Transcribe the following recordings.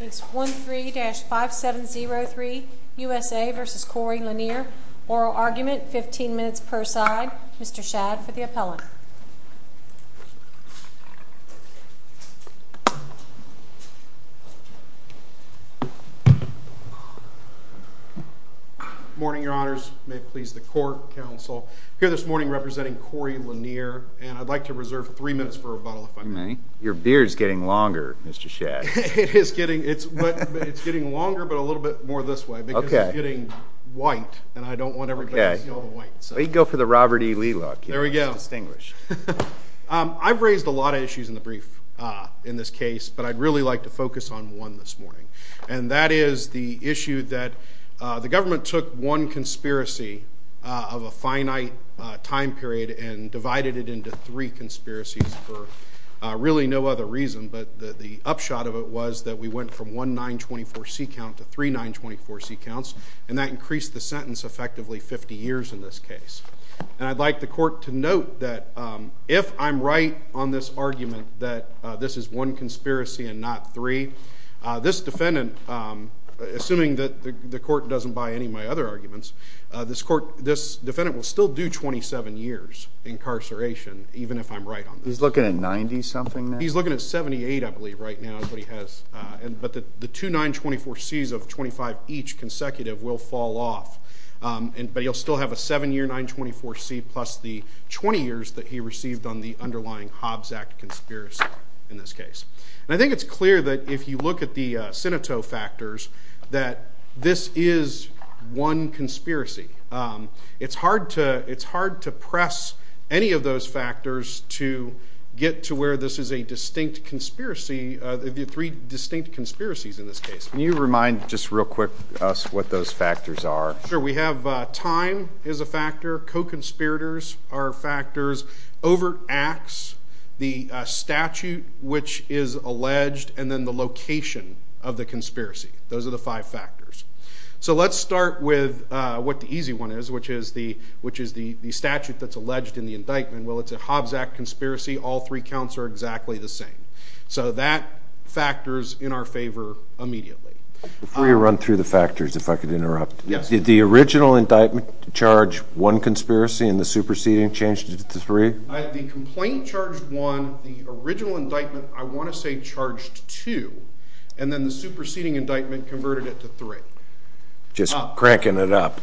It's 13-5703 USA v. Corey Lanier. Oral argument, 15 minutes per side. Mr. Shadd, for the appellant. Good morning, Your Honors. May it please the Court, Counsel. Here this morning representing Corey Lanier, and I'd like to reserve three minutes for rebuttal, if I may. Your beard's getting longer, Mr. Shadd. It's getting longer, but a little bit more this way, because it's getting white, and I don't want everybody to see all the white. Well, you can go for the Robert E. Lee look. There we go. I've raised a lot of issues in the brief in this case, but I'd really like to focus on one this morning. And that is the issue that the government took one conspiracy of a finite time period and divided it into three conspiracies for really no other reason. But the upshot of it was that we went from one 924C count to three 924C counts, and that increased the sentence effectively 50 years in this case. And I'd like the Court to note that if I'm right on this argument that this is one conspiracy and not three, this defendant, assuming that the Court doesn't buy any of my other arguments, this defendant will still do 27 years incarceration, even if I'm right on this. He's looking at 90-something now? He's looking at 78, I believe, right now is what he has. But the two 924Cs of 25 each consecutive will fall off, but he'll still have a seven-year 924C plus the 20 years that he received on the underlying Hobbs Act conspiracy in this case. And I think it's clear that if you look at the Sinitoe factors that this is one conspiracy. It's hard to press any of those factors to get to where this is a distinct conspiracy, the three distinct conspiracies in this case. Can you remind just real quick us what those factors are? Sure. We have time as a factor, co-conspirators are factors, overt acts, the statute which is alleged, and then the location of the conspiracy. Those are the five factors. So let's start with what the easy one is, which is the statute that's alleged in the indictment. Well, it's a Hobbs Act conspiracy. All three counts are exactly the same. So that factors in our favor immediately. Before you run through the factors, if I could interrupt. Yes. Did the original indictment charge one conspiracy and the superseding changed it to three? The complaint charged one, the original indictment I want to say charged two, and then the superseding indictment converted it to three. Just cranking it up.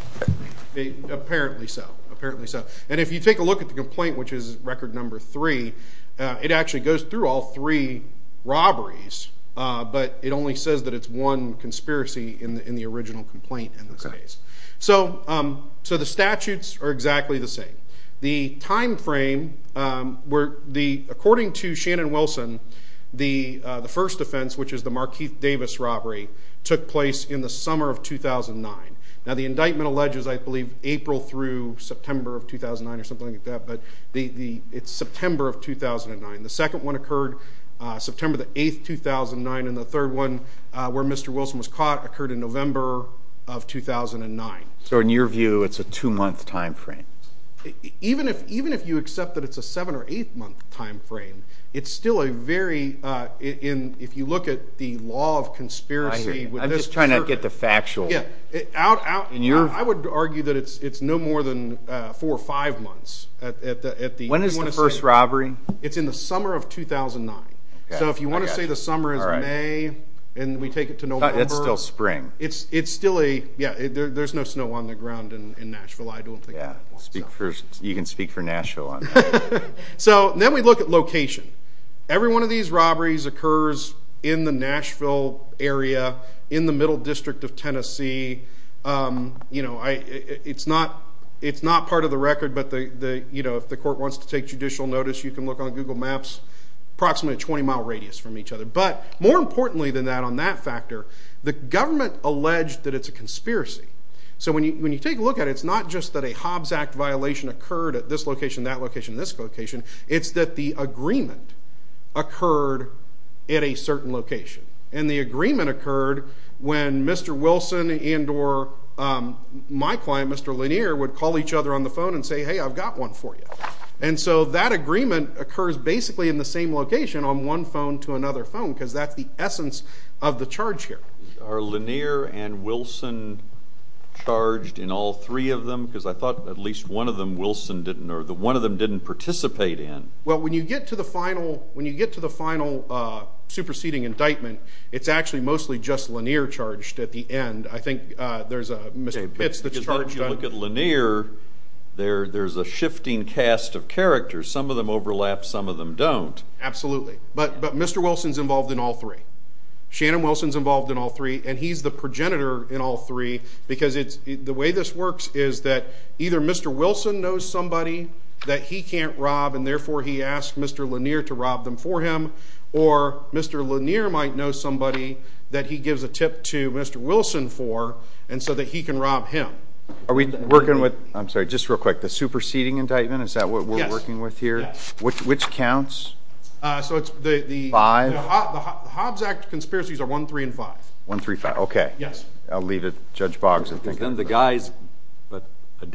Apparently so, apparently so. And if you take a look at the complaint, which is record number three, it actually goes through all three robberies, but it only says that it's one conspiracy in the original complaint in this case. So the statutes are exactly the same. The time frame, according to Shannon Wilson, the first offense, which is the Markeith Davis robbery, took place in the summer of 2009. Now, the indictment alleges, I believe, April through September of 2009 or something like that, but it's September of 2009. The second one occurred September the 8th, 2009, and the third one, where Mr. Wilson was caught, occurred in November of 2009. So in your view, it's a two-month time frame? Even if you accept that it's a seven- or eight-month time frame, it's still a very – if you look at the law of conspiracy – I'm just trying to get the factual. I would argue that it's no more than four or five months. When is the first robbery? It's in the summer of 2009. So if you want to say the summer is May, and we take it to November. It's still spring. It's still a – yeah, there's no snow on the ground in Nashville, I don't think. Yeah, you can speak for Nashville on that. So then we look at location. Every one of these robberies occurs in the Nashville area, in the Middle District of Tennessee. It's not part of the record, but if the court wants to take judicial notice, you can look on Google Maps. Approximately a 20-mile radius from each other. But more importantly than that, on that factor, the government alleged that it's a conspiracy. So when you take a look at it, it's not just that a Hobbs Act violation occurred at this location, that location, this location. It's that the agreement occurred at a certain location. And the agreement occurred when Mr. Wilson and or my client, Mr. Lanier, would call each other on the phone and say, hey, I've got one for you. And so that agreement occurs basically in the same location on one phone to another phone, because that's the essence of the charge here. Are Lanier and Wilson charged in all three of them? Because I thought at least one of them Wilson didn't or one of them didn't participate in. Well, when you get to the final superseding indictment, it's actually mostly just Lanier charged at the end. I think there's a Mr. Pitts that's charged. If you look at Lanier, there's a shifting cast of characters. Some of them overlap. Some of them don't. Absolutely. But Mr. Wilson's involved in all three. Shannon Wilson's involved in all three, and he's the progenitor in all three, because the way this works is that either Mr. Wilson knows somebody that he can't rob, and therefore he asks Mr. Lanier to rob them for him, or Mr. Lanier might know somebody that he gives a tip to Mr. Wilson for and so that he can rob him. Are we working with, I'm sorry, just real quick, the superseding indictment? Is that what we're working with here? Yes. Which counts? So it's the Hobbs Act conspiracies are 1, 3, and 5. 1, 3, 5. Okay. Yes. I'll leave it to Judge Boggs. Then the guys,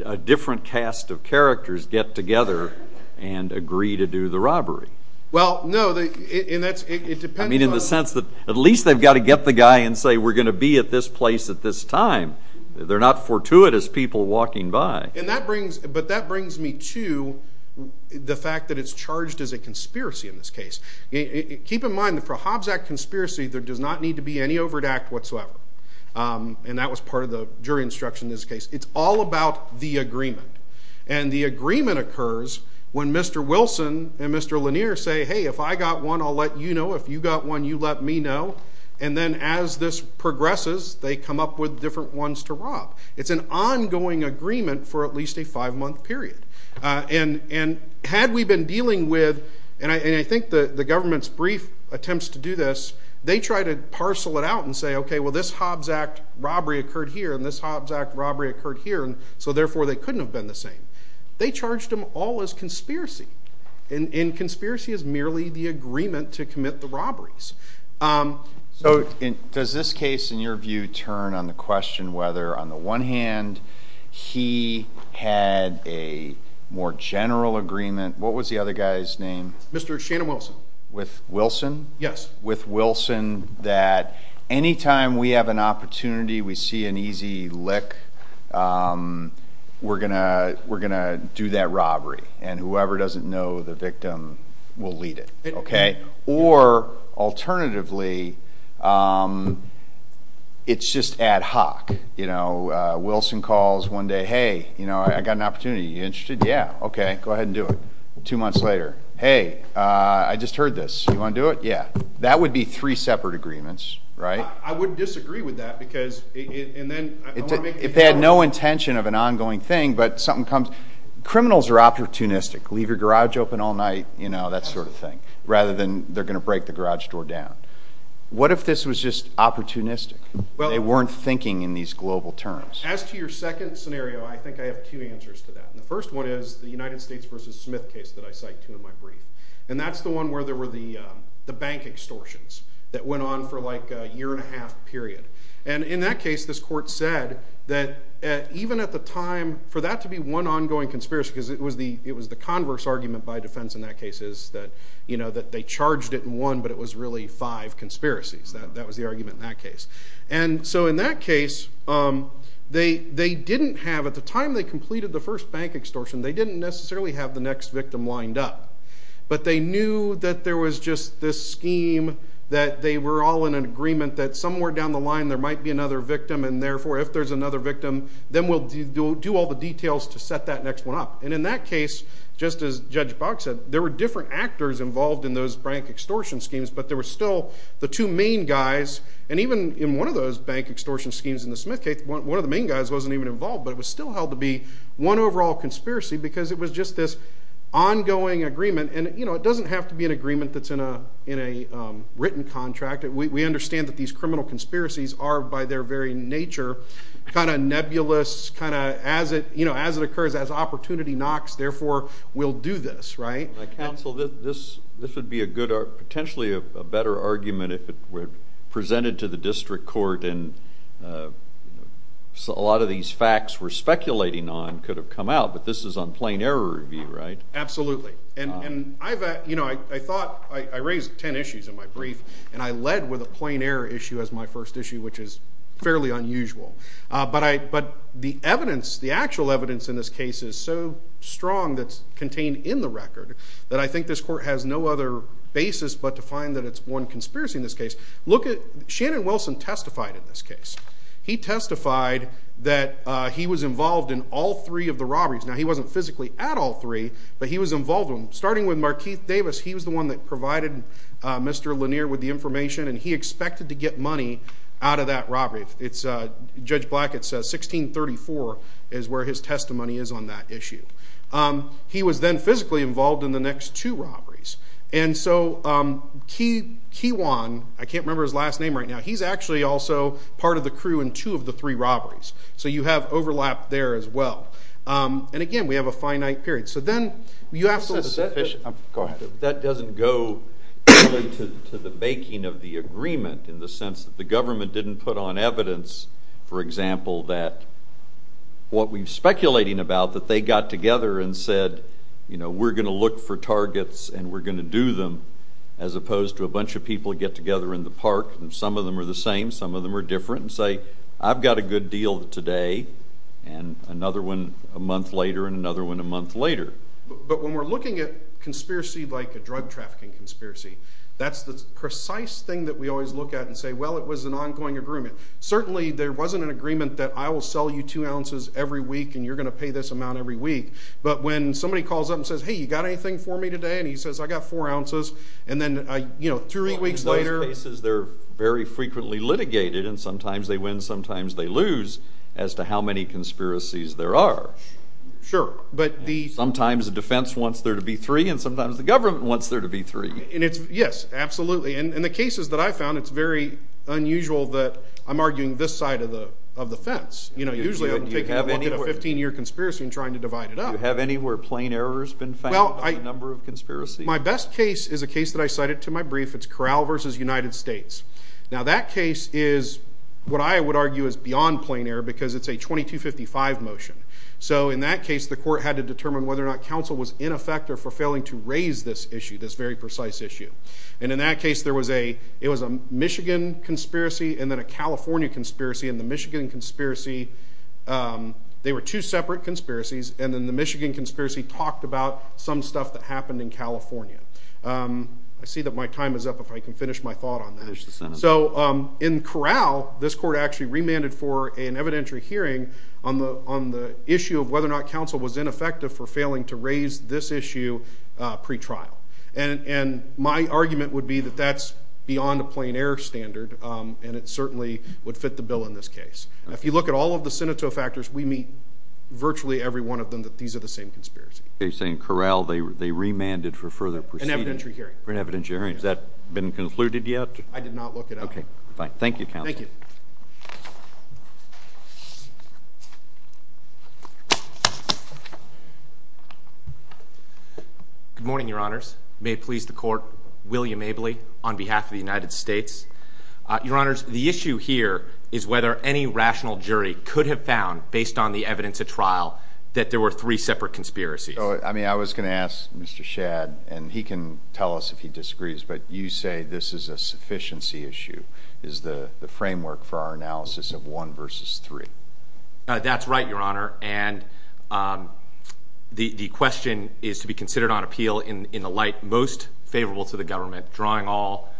a different cast of characters, get together and agree to do the robbery. Well, no, it depends. I mean in the sense that at least they've got to get the guy and say, we're going to be at this place at this time. They're not fortuitous people walking by. But that brings me to the fact that it's charged as a conspiracy in this case. Keep in mind that for a Hobbs Act conspiracy, there does not need to be any overt act whatsoever. And that was part of the jury instruction in this case. It's all about the agreement. And the agreement occurs when Mr. Wilson and Mr. Lanier say, hey, if I got one, I'll let you know. If you got one, you let me know. And then as this progresses, they come up with different ones to rob. It's an ongoing agreement for at least a five-month period. And had we been dealing with, and I think the government's brief attempts to do this, they try to parcel it out and say, okay, well, this Hobbs Act robbery occurred here and this Hobbs Act robbery occurred here, and so therefore they couldn't have been the same. They charged them all as conspiracy. And conspiracy is merely the agreement to commit the robberies. So does this case, in your view, turn on the question whether on the one hand he had a more general agreement? What was the other guy's name? Mr. Shannon Wilson. With Wilson? Yes. With Wilson that any time we have an opportunity, we see an easy lick, we're going to do that robbery. And whoever doesn't know the victim will lead it. Or alternatively, it's just ad hoc. Wilson calls one day, hey, I got an opportunity. Are you interested? Yeah. Okay, go ahead and do it. Two months later, hey, I just heard this. Do you want to do it? Yeah. That would be three separate agreements, right? I would disagree with that because then I want to make it clear. If they had no intention of an ongoing thing but something comes, criminals are opportunistic. Leave your garage open all night, that sort of thing, rather than they're going to break the garage door down. What if this was just opportunistic? They weren't thinking in these global terms. As to your second scenario, I think I have two answers to that. The first one is the United States v. Smith case that I cited to in my brief. And that's the one where there were the bank extortions that went on for like a year and a half period. And in that case, this court said that even at the time, for that to be one ongoing conspiracy, because it was the converse argument by defense in that case is that they charged it in one but it was really five conspiracies. That was the argument in that case. And so in that case, they didn't have, at the time they completed the first bank extortion, they didn't necessarily have the next victim lined up. But they knew that there was just this scheme that they were all in an agreement that somewhere down the line there might be another victim, and therefore if there's another victim, then we'll do all the details to set that next one up. And in that case, just as Judge Boggs said, there were different actors involved in those bank extortion schemes, but there were still the two main guys, and even in one of those bank extortion schemes in the Smith case, one of the main guys wasn't even involved, but it was still held to be one overall conspiracy because it was just this ongoing agreement, and it doesn't have to be an agreement that's in a written contract. We understand that these criminal conspiracies are, by their very nature, kind of nebulous, kind of as it occurs, as opportunity knocks, therefore we'll do this, right? Counsel, this would be potentially a better argument if it were presented to the district court and a lot of these facts we're speculating on could have come out, but this is on plain error review, right? Absolutely. And I thought I raised ten issues in my brief, and I led with a plain error issue as my first issue, which is fairly unusual. But the evidence, the actual evidence in this case is so strong that's contained in the record that I think this court has no other basis but to find that it's one conspiracy in this case. Shannon Wilson testified in this case. He testified that he was involved in all three of the robberies. Now, he wasn't physically at all three, but he was involved. Starting with Markeith Davis, he was the one that provided Mr. Lanier with the information, and he expected to get money out of that robbery. Judge Blackett says 1634 is where his testimony is on that issue. He was then physically involved in the next two robberies. And so Keewan, I can't remember his last name right now, he's actually also part of the crew in two of the three robberies. So you have overlap there as well. And again, we have a finite period. So then you have to look at that. Go ahead. That doesn't go to the baking of the agreement in the sense that the government didn't put on evidence, for example, that what we're speculating about, that they got together and said, you know, we're going to look for targets and we're going to do them, as opposed to a bunch of people get together in the park and some of them are the same, some of them are different, and say, I've got a good deal today and another one a month later and another one a month later. But when we're looking at conspiracy like a drug trafficking conspiracy, that's the precise thing that we always look at and say, well, it was an ongoing agreement. Certainly there wasn't an agreement that I will sell you two ounces every week and you're going to pay this amount every week. But when somebody calls up and says, hey, you got anything for me today? And he says, I got four ounces. And then, you know, three weeks later. In those cases, they're very frequently litigated and sometimes they win, sometimes they lose as to how many conspiracies there are. Sure. Sometimes the defense wants there to be three and sometimes the government wants there to be three. Yes, absolutely. In the cases that I found, it's very unusual that I'm arguing this side of the fence. You know, usually I'm taking a look at a 15-year conspiracy and trying to divide it up. Do you have any where plain error has been found on the number of conspiracies? My best case is a case that I cited to my brief. It's Corral v. United States. Now, that case is what I would argue is beyond plain error because it's a 2255 motion. So in that case, the court had to determine whether or not counsel was in effect or for failing to raise this issue, this very precise issue. And in that case, there was a Michigan conspiracy and then a California conspiracy. In the Michigan conspiracy, they were two separate conspiracies. And then the Michigan conspiracy talked about some stuff that happened in California. I see that my time is up if I can finish my thought on that. Finish the sentence. So in Corral, this court actually remanded for an evidentiary hearing on the issue of whether or not counsel was ineffective for failing to raise this issue pretrial. And my argument would be that that's beyond a plain error standard, and it certainly would fit the bill in this case. If you look at all of the Sinitto factors, we meet virtually every one of them that these are the same conspiracies. You're saying Corral, they remanded for further proceedings? An evidentiary hearing. For an evidentiary hearing. Has that been concluded yet? I did not look it up. Okay. Fine. Thank you, counsel. Thank you. Thank you. Good morning, Your Honors. May it please the court, William Abley on behalf of the United States. Your Honors, the issue here is whether any rational jury could have found, based on the evidence at trial, that there were three separate conspiracies. I mean, I was going to ask Mr. Shadd, and he can tell us if he disagrees, but you say this is a sufficiency issue, is the framework for our analysis of one versus three. That's right, Your Honor. And the question is to be considered on appeal in the light most favorable to the government, drawing all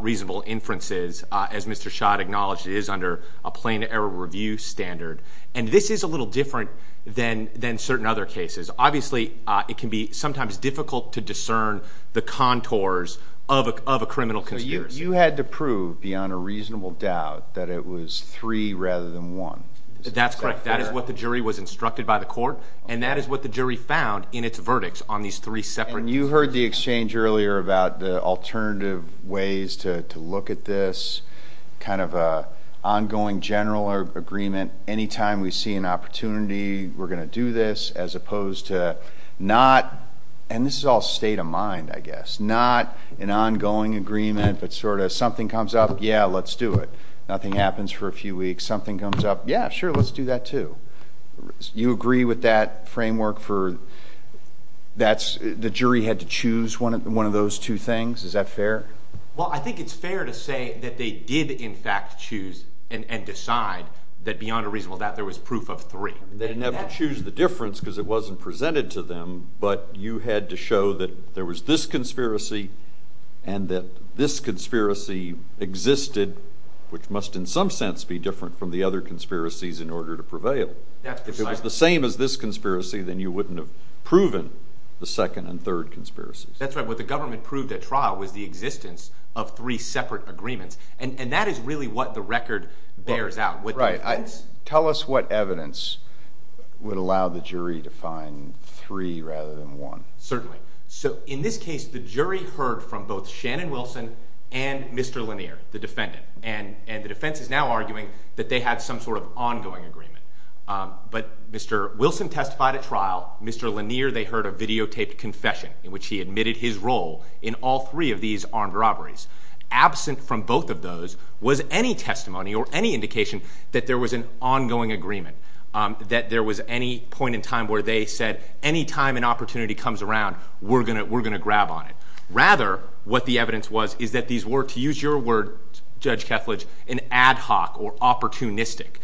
reasonable inferences, as Mr. Shadd acknowledged it is under a plain error review standard. And this is a little different than certain other cases. Obviously, it can be sometimes difficult to discern the contours of a criminal conspiracy. You had to prove, beyond a reasonable doubt, that it was three rather than one. That's correct. That is what the jury was instructed by the court, and that is what the jury found in its verdicts on these three separate conspiracies. And you heard the exchange earlier about the alternative ways to look at this, kind of an ongoing general agreement. Anytime we see an opportunity, we're going to do this, as opposed to not, and this is all state of mind, I guess, not an ongoing agreement, but sort of something comes up, yeah, let's do it. Nothing happens for a few weeks. Something comes up, yeah, sure, let's do that, too. You agree with that framework for that's the jury had to choose one of those two things? Is that fair? Well, I think it's fair to say that they did, in fact, choose and decide that beyond a reasonable doubt there was proof of three. They didn't have to choose the difference because it wasn't presented to them, but you had to show that there was this conspiracy and that this conspiracy existed, which must in some sense be different from the other conspiracies in order to prevail. If it was the same as this conspiracy, then you wouldn't have proven the second and third conspiracies. That's right. What the government proved at trial was the existence of three separate agreements, and that is really what the record bears out. Right. Tell us what evidence would allow the jury to find three rather than one. Certainly. So in this case, the jury heard from both Shannon Wilson and Mr. Lanier, the defendant, and the defense is now arguing that they had some sort of ongoing agreement. But Mr. Wilson testified at trial. Mr. Lanier, they heard a videotaped confession in which he admitted his role in all three of these armed robberies. Absent from both of those was any testimony or any indication that there was an ongoing agreement, that there was any point in time where they said any time an opportunity comes around, we're going to grab on it. Rather, what the evidence was is that these were, to use your word, Judge Kethledge, an ad hoc or opportunistic.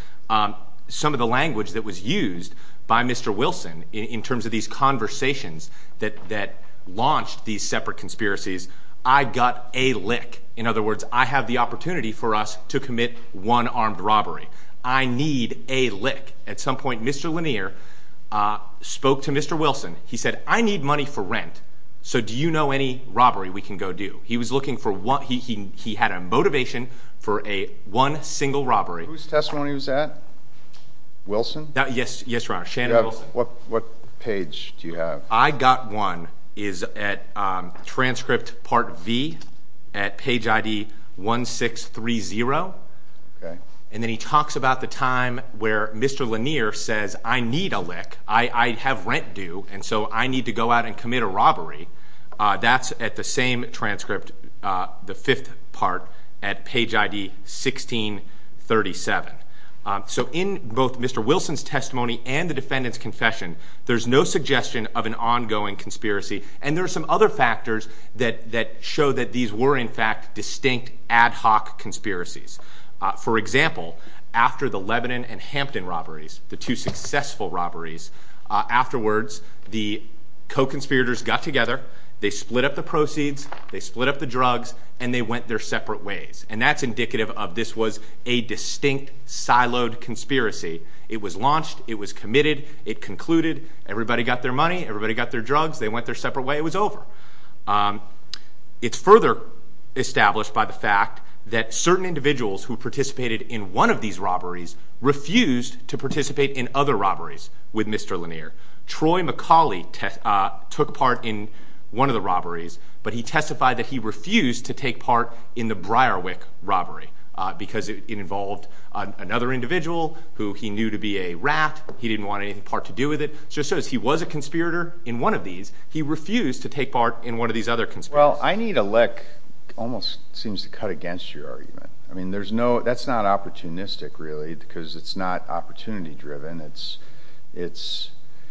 Some of the language that was used by Mr. Wilson in terms of these conversations that launched these separate conspiracies, I got a lick. In other words, I have the opportunity for us to commit one armed robbery. I need a lick. At some point, Mr. Lanier spoke to Mr. Wilson. He said, I need money for rent, so do you know any robbery we can go do? He was looking for one. He had a motivation for a one single robbery. Whose testimony was that? Wilson? Yes, Your Honor. What page do you have? I got one is at transcript part V at page ID 1630. And then he talks about the time where Mr. Lanier says, I need a lick. I have rent due, and so I need to go out and commit a robbery. That's at the same transcript, the fifth part, at page ID 1637. So in both Mr. Wilson's testimony and the defendant's confession, there's no suggestion of an ongoing conspiracy. And there are some other factors that show that these were, in fact, distinct ad hoc conspiracies. For example, after the Lebanon and Hampton robberies, the two successful robberies, afterwards the co-conspirators got together, they split up the proceeds, they split up the drugs, and they went their separate ways. And that's indicative of this was a distinct siloed conspiracy. It was launched. It was committed. It concluded. Everybody got their money. Everybody got their drugs. They went their separate way. It was over. It's further established by the fact that certain individuals who participated in one of these robberies refused to participate in other robberies with Mr. Lanier. Troy McCauley took part in one of the robberies, but he testified that he refused to take part in the Briarwick robbery because it involved another individual who he knew to be a rat. He didn't want anything part to do with it. So it shows he was a conspirator in one of these. He refused to take part in one of these other conspiracies. Well, I need a lick almost seems to cut against your argument. I mean, that's not opportunistic really because it's not opportunity driven. It's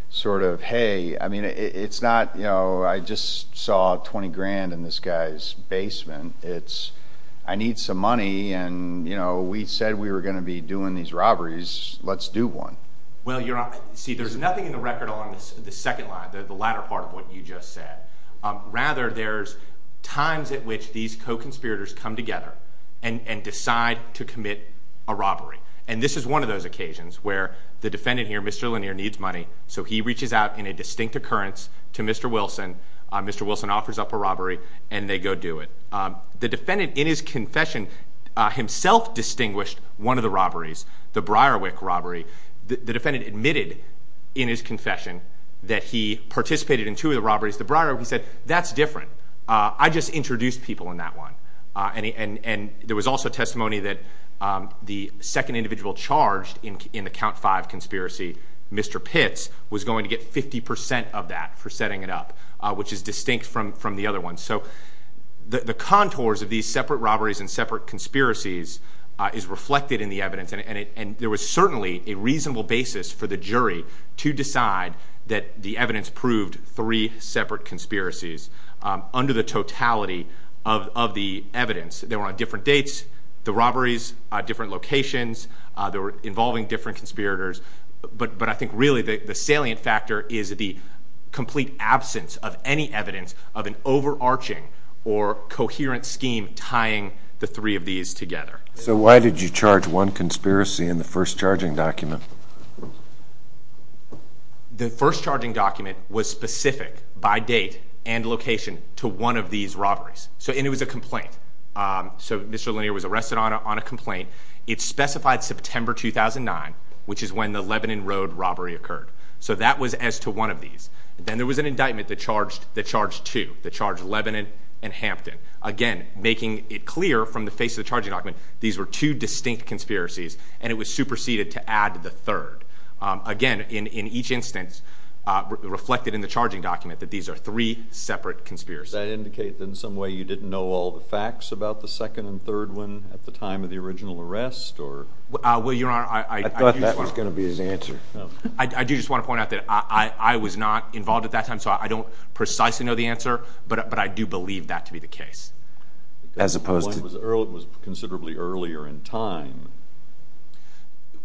sort of, hey, I mean, it's not, you know, I just saw 20 grand in this guy's basement. It's I need some money, and, you know, we said we were going to be doing these robberies. Let's do one. Well, see, there's nothing in the record along the second line, the latter part of what you just said. Rather, there's times at which these co-conspirators come together and decide to commit a robbery. And this is one of those occasions where the defendant here, Mr. Lanier, needs money, so he reaches out in a distinct occurrence to Mr. Wilson. Mr. Wilson offers up a robbery, and they go do it. The defendant in his confession himself distinguished one of the robberies, the Briarwick robbery. The defendant admitted in his confession that he participated in two of the robberies. The Briarwick, he said, that's different. I just introduced people in that one. And there was also testimony that the second individual charged in the Count Five conspiracy, Mr. Pitts, was going to get 50 percent of that for setting it up, which is distinct from the other ones. So the contours of these separate robberies and separate conspiracies is reflected in the evidence, and there was certainly a reasonable basis for the jury to decide that the evidence proved three separate conspiracies under the totality of the evidence. They were on different dates, the robberies, different locations. They were involving different conspirators. But I think really the salient factor is the complete absence of any evidence of an overarching or coherent scheme tying the three of these together. So why did you charge one conspiracy in the first charging document? The first charging document was specific by date and location to one of these robberies. And it was a complaint. So Mr. Lanier was arrested on a complaint. It specified September 2009, which is when the Lebanon Road robbery occurred. So that was as to one of these. Then there was an indictment that charged two, that charged Lebanon and Hampton. Again, making it clear from the face of the charging document these were two distinct conspiracies, and it was superseded to add the third. Again, in each instance reflected in the charging document that these are three separate conspiracies. Does that indicate that in some way you didn't know all the facts about the second and third one at the time of the original arrest? I thought that was going to be his answer. I do just want to point out that I was not involved at that time, so I don't precisely know the answer, but I do believe that to be the case. The one was considerably earlier in time.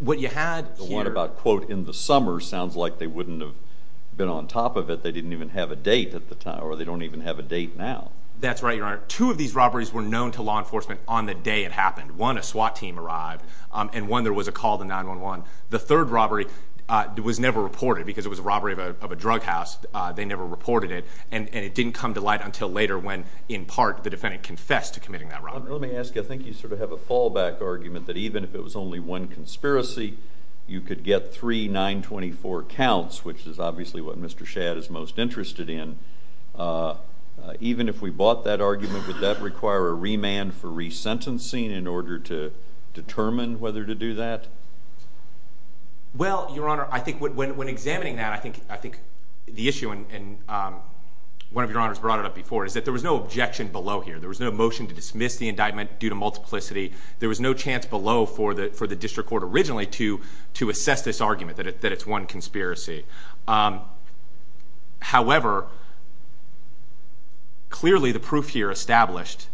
The one about, quote, in the summer sounds like they wouldn't have been on top of it. They didn't even have a date at the time, or they don't even have a date now. That's right, Your Honor. Two of these robberies were known to law enforcement on the day it happened. One, a SWAT team arrived, and one, there was a call to 911. The third robbery was never reported because it was a robbery of a drug house. They never reported it, and it didn't come to light until later when, in part, the defendant confessed to committing that robbery. Let me ask you, I think you sort of have a fallback argument that even if it was only one conspiracy, you could get three 924 counts, which is obviously what Mr. Shadd is most interested in. Even if we bought that argument, would that require a remand for resentencing in order to determine whether to do that? Well, Your Honor, I think when examining that, I think the issue, and one of Your Honors brought it up before, is that there was no objection below here. There was no motion to dismiss the indictment due to multiplicity. There was no chance below for the district court originally to assess this argument that it's one conspiracy. However, clearly the proof here established,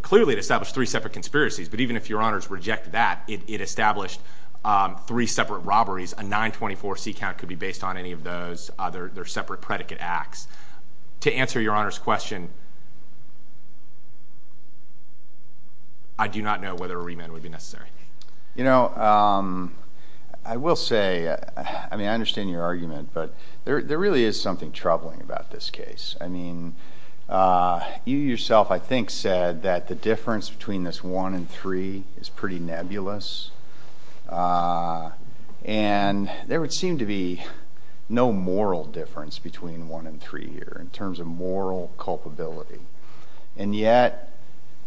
clearly it established three separate conspiracies, but even if Your Honors reject that, it established three separate robberies. A 924C count could be based on any of those. They're separate predicate acts. To answer Your Honor's question, I do not know whether a remand would be necessary. You know, I will say, I mean, I understand your argument, but there really is something troubling about this case. I mean, you yourself, I think, said that the difference between this one and three is pretty nebulous, and there would seem to be no moral difference between one and three here in terms of moral culpability. And yet,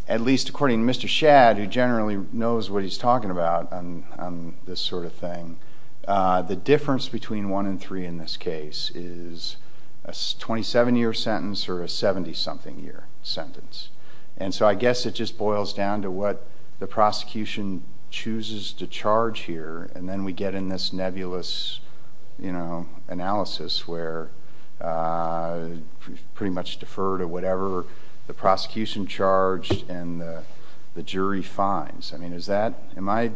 at least according to Mr. Shadd, who generally knows what he's talking about on this sort of thing, the difference between one and three in this case is a 27-year sentence or a 70-something year sentence. And so I guess it just boils down to what the prosecution chooses to charge here, and then we get in this nebulous analysis where we pretty much defer to whatever the prosecution charged and the jury finds. I mean, is that—am I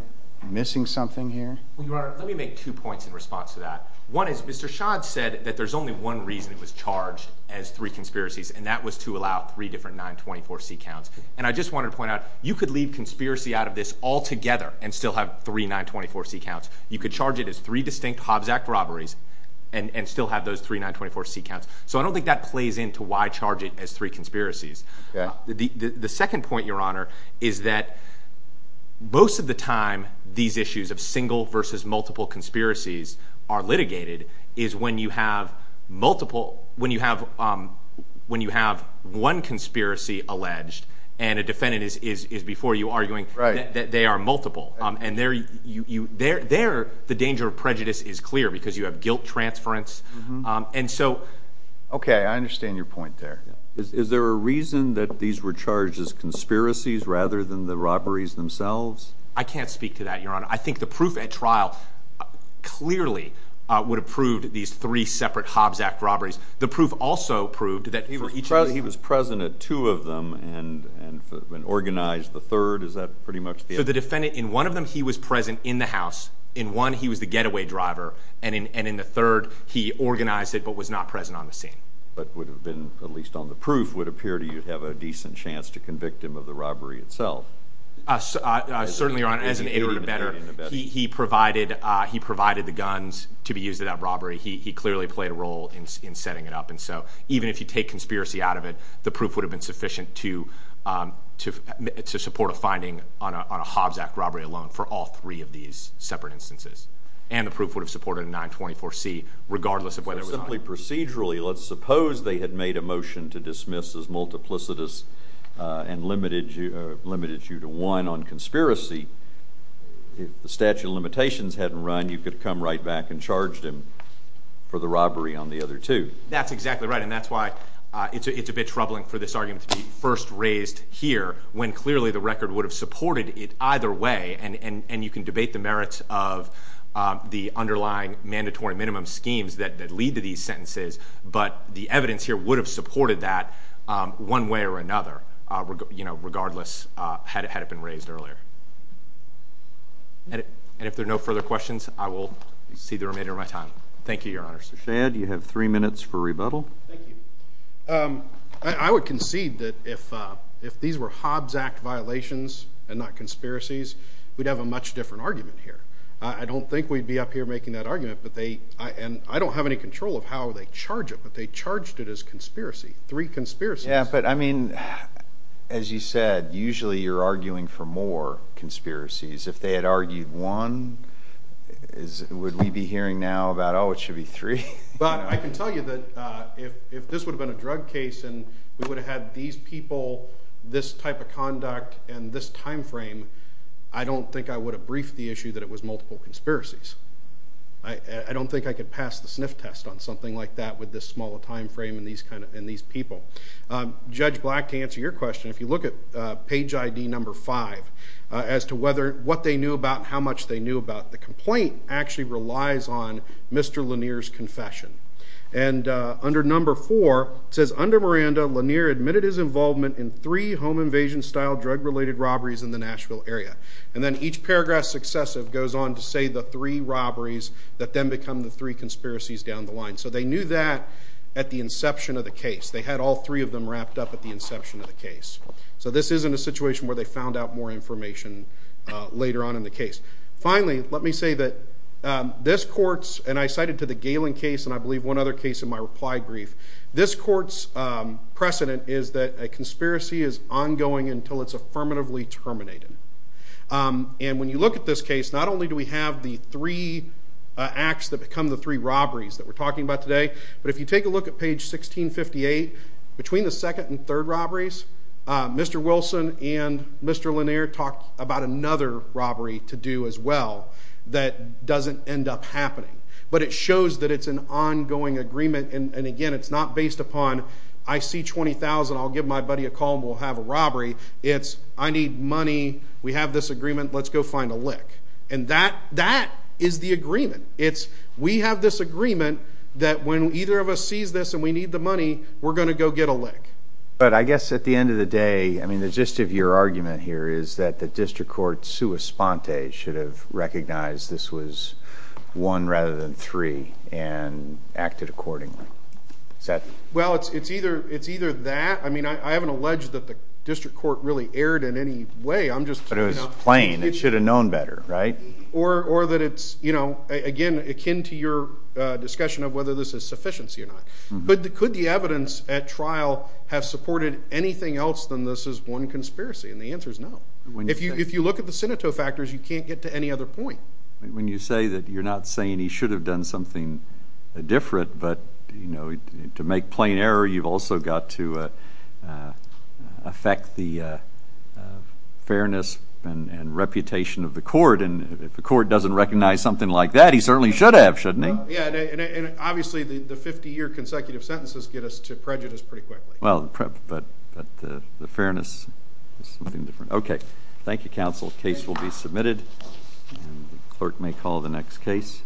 missing something here? Well, Your Honor, let me make two points in response to that. One is Mr. Shadd said that there's only one reason it was charged as three conspiracies, and that was to allow three different 924C counts. And I just wanted to point out you could leave conspiracy out of this altogether and still have three 924C counts. You could charge it as three distinct Hobbs Act robberies and still have those three 924C counts. So I don't think that plays into why charge it as three conspiracies. The second point, Your Honor, is that most of the time these issues of single versus multiple conspiracies are litigated is when you have multiple—when you have one conspiracy alleged and a defendant is before you arguing that they are multiple. And there the danger of prejudice is clear because you have guilt transference. And so— Okay, I understand your point there. Is there a reason that these were charged as conspiracies rather than the robberies themselves? I can't speak to that, Your Honor. I think the proof at trial clearly would have proved these three separate Hobbs Act robberies. The proof also proved that for each of those— He was present at two of them and organized the third. Is that pretty much the— So the defendant, in one of them, he was present in the house. In one, he was the getaway driver. And in the third, he organized it but was not present on the scene. But would have been, at least on the proof, would appear to have a decent chance to convict him of the robbery itself. Certainly, Your Honor. As an ignorant abettor, he provided the guns to be used at that robbery. He clearly played a role in setting it up. And so even if you take conspiracy out of it, the proof would have been sufficient to support a finding on a Hobbs Act robbery alone for all three of these separate instances. And the proof would have supported a 924C regardless of whether it was on it. Let's suppose they had made a motion to dismiss as multiplicitous and limited you to one on conspiracy. If the statute of limitations hadn't run, you could have come right back and charged him for the robbery on the other two. That's exactly right. And that's why it's a bit troubling for this argument to be first raised here when clearly the record would have supported it either way. And you can debate the merits of the underlying mandatory minimum schemes that lead to these sentences. But the evidence here would have supported that one way or another regardless had it been raised earlier. And if there are no further questions, I will see the remainder of my time. Thank you, Your Honor. Mr. Shad, you have three minutes for rebuttal. Thank you. I would concede that if these were Hobbs Act violations and not conspiracies, we'd have a much different argument here. I don't think we'd be up here making that argument. And I don't have any control of how they charge it, but they charged it as conspiracy, three conspiracies. Yeah, but, I mean, as you said, usually you're arguing for more conspiracies. If they had argued one, would we be hearing now about, oh, it should be three? But I can tell you that if this would have been a drug case and we would have had these people, this type of conduct, and this time frame, I don't think I would have briefed the issue that it was multiple conspiracies. I don't think I could pass the sniff test on something like that with this small a time frame and these people. Judge Black, to answer your question, if you look at page ID number five as to what they knew about how much they knew about the complaint actually relies on Mr. Lanier's confession. And under number four, it says, under Miranda, Lanier admitted his involvement in three home invasion-style drug-related robberies in the Nashville area. And then each paragraph successive goes on to say the three robberies that then become the three conspiracies down the line. So they knew that at the inception of the case. They had all three of them wrapped up at the inception of the case. So this isn't a situation where they found out more information later on in the case. Finally, let me say that this court's, and I cited to the Galen case, and I believe one other case in my reply brief, this court's precedent is that a conspiracy is ongoing until it's affirmatively terminated. And when you look at this case, not only do we have the three acts that become the three robberies that we're talking about today, but if you take a look at page 1658, between the second and third robberies, Mr. Wilson and Mr. Lanier talk about another robbery to do as well that doesn't end up happening. But it shows that it's an ongoing agreement. And again, it's not based upon I see $20,000, I'll give my buddy a call, and we'll have a robbery. It's I need money, we have this agreement, let's go find a lick. And that is the agreement. It's we have this agreement that when either of us sees this and we need the money, we're going to go get a lick. But I guess at the end of the day, I mean, the gist of your argument here is that the district court sua sponte should have recognized this was one rather than three and acted accordingly. Well, it's either that. I mean, I haven't alleged that the district court really erred in any way. But it was plain. It should have known better, right? Or that it's, you know, again, akin to your discussion of whether this is sufficiency or not. Could the evidence at trial have supported anything else than this is one conspiracy? And the answer is no. If you look at the Sineto factors, you can't get to any other point. When you say that you're not saying he should have done something different, but, you know, to make plain error, you've also got to affect the fairness and reputation of the court. And if the court doesn't recognize something like that, he certainly should have, shouldn't he? Yeah, and obviously the 50-year consecutive sentences get us to prejudice pretty quickly. Well, but the fairness is something different. Okay. Thank you, counsel. Case will be submitted. And the clerk may call the next case.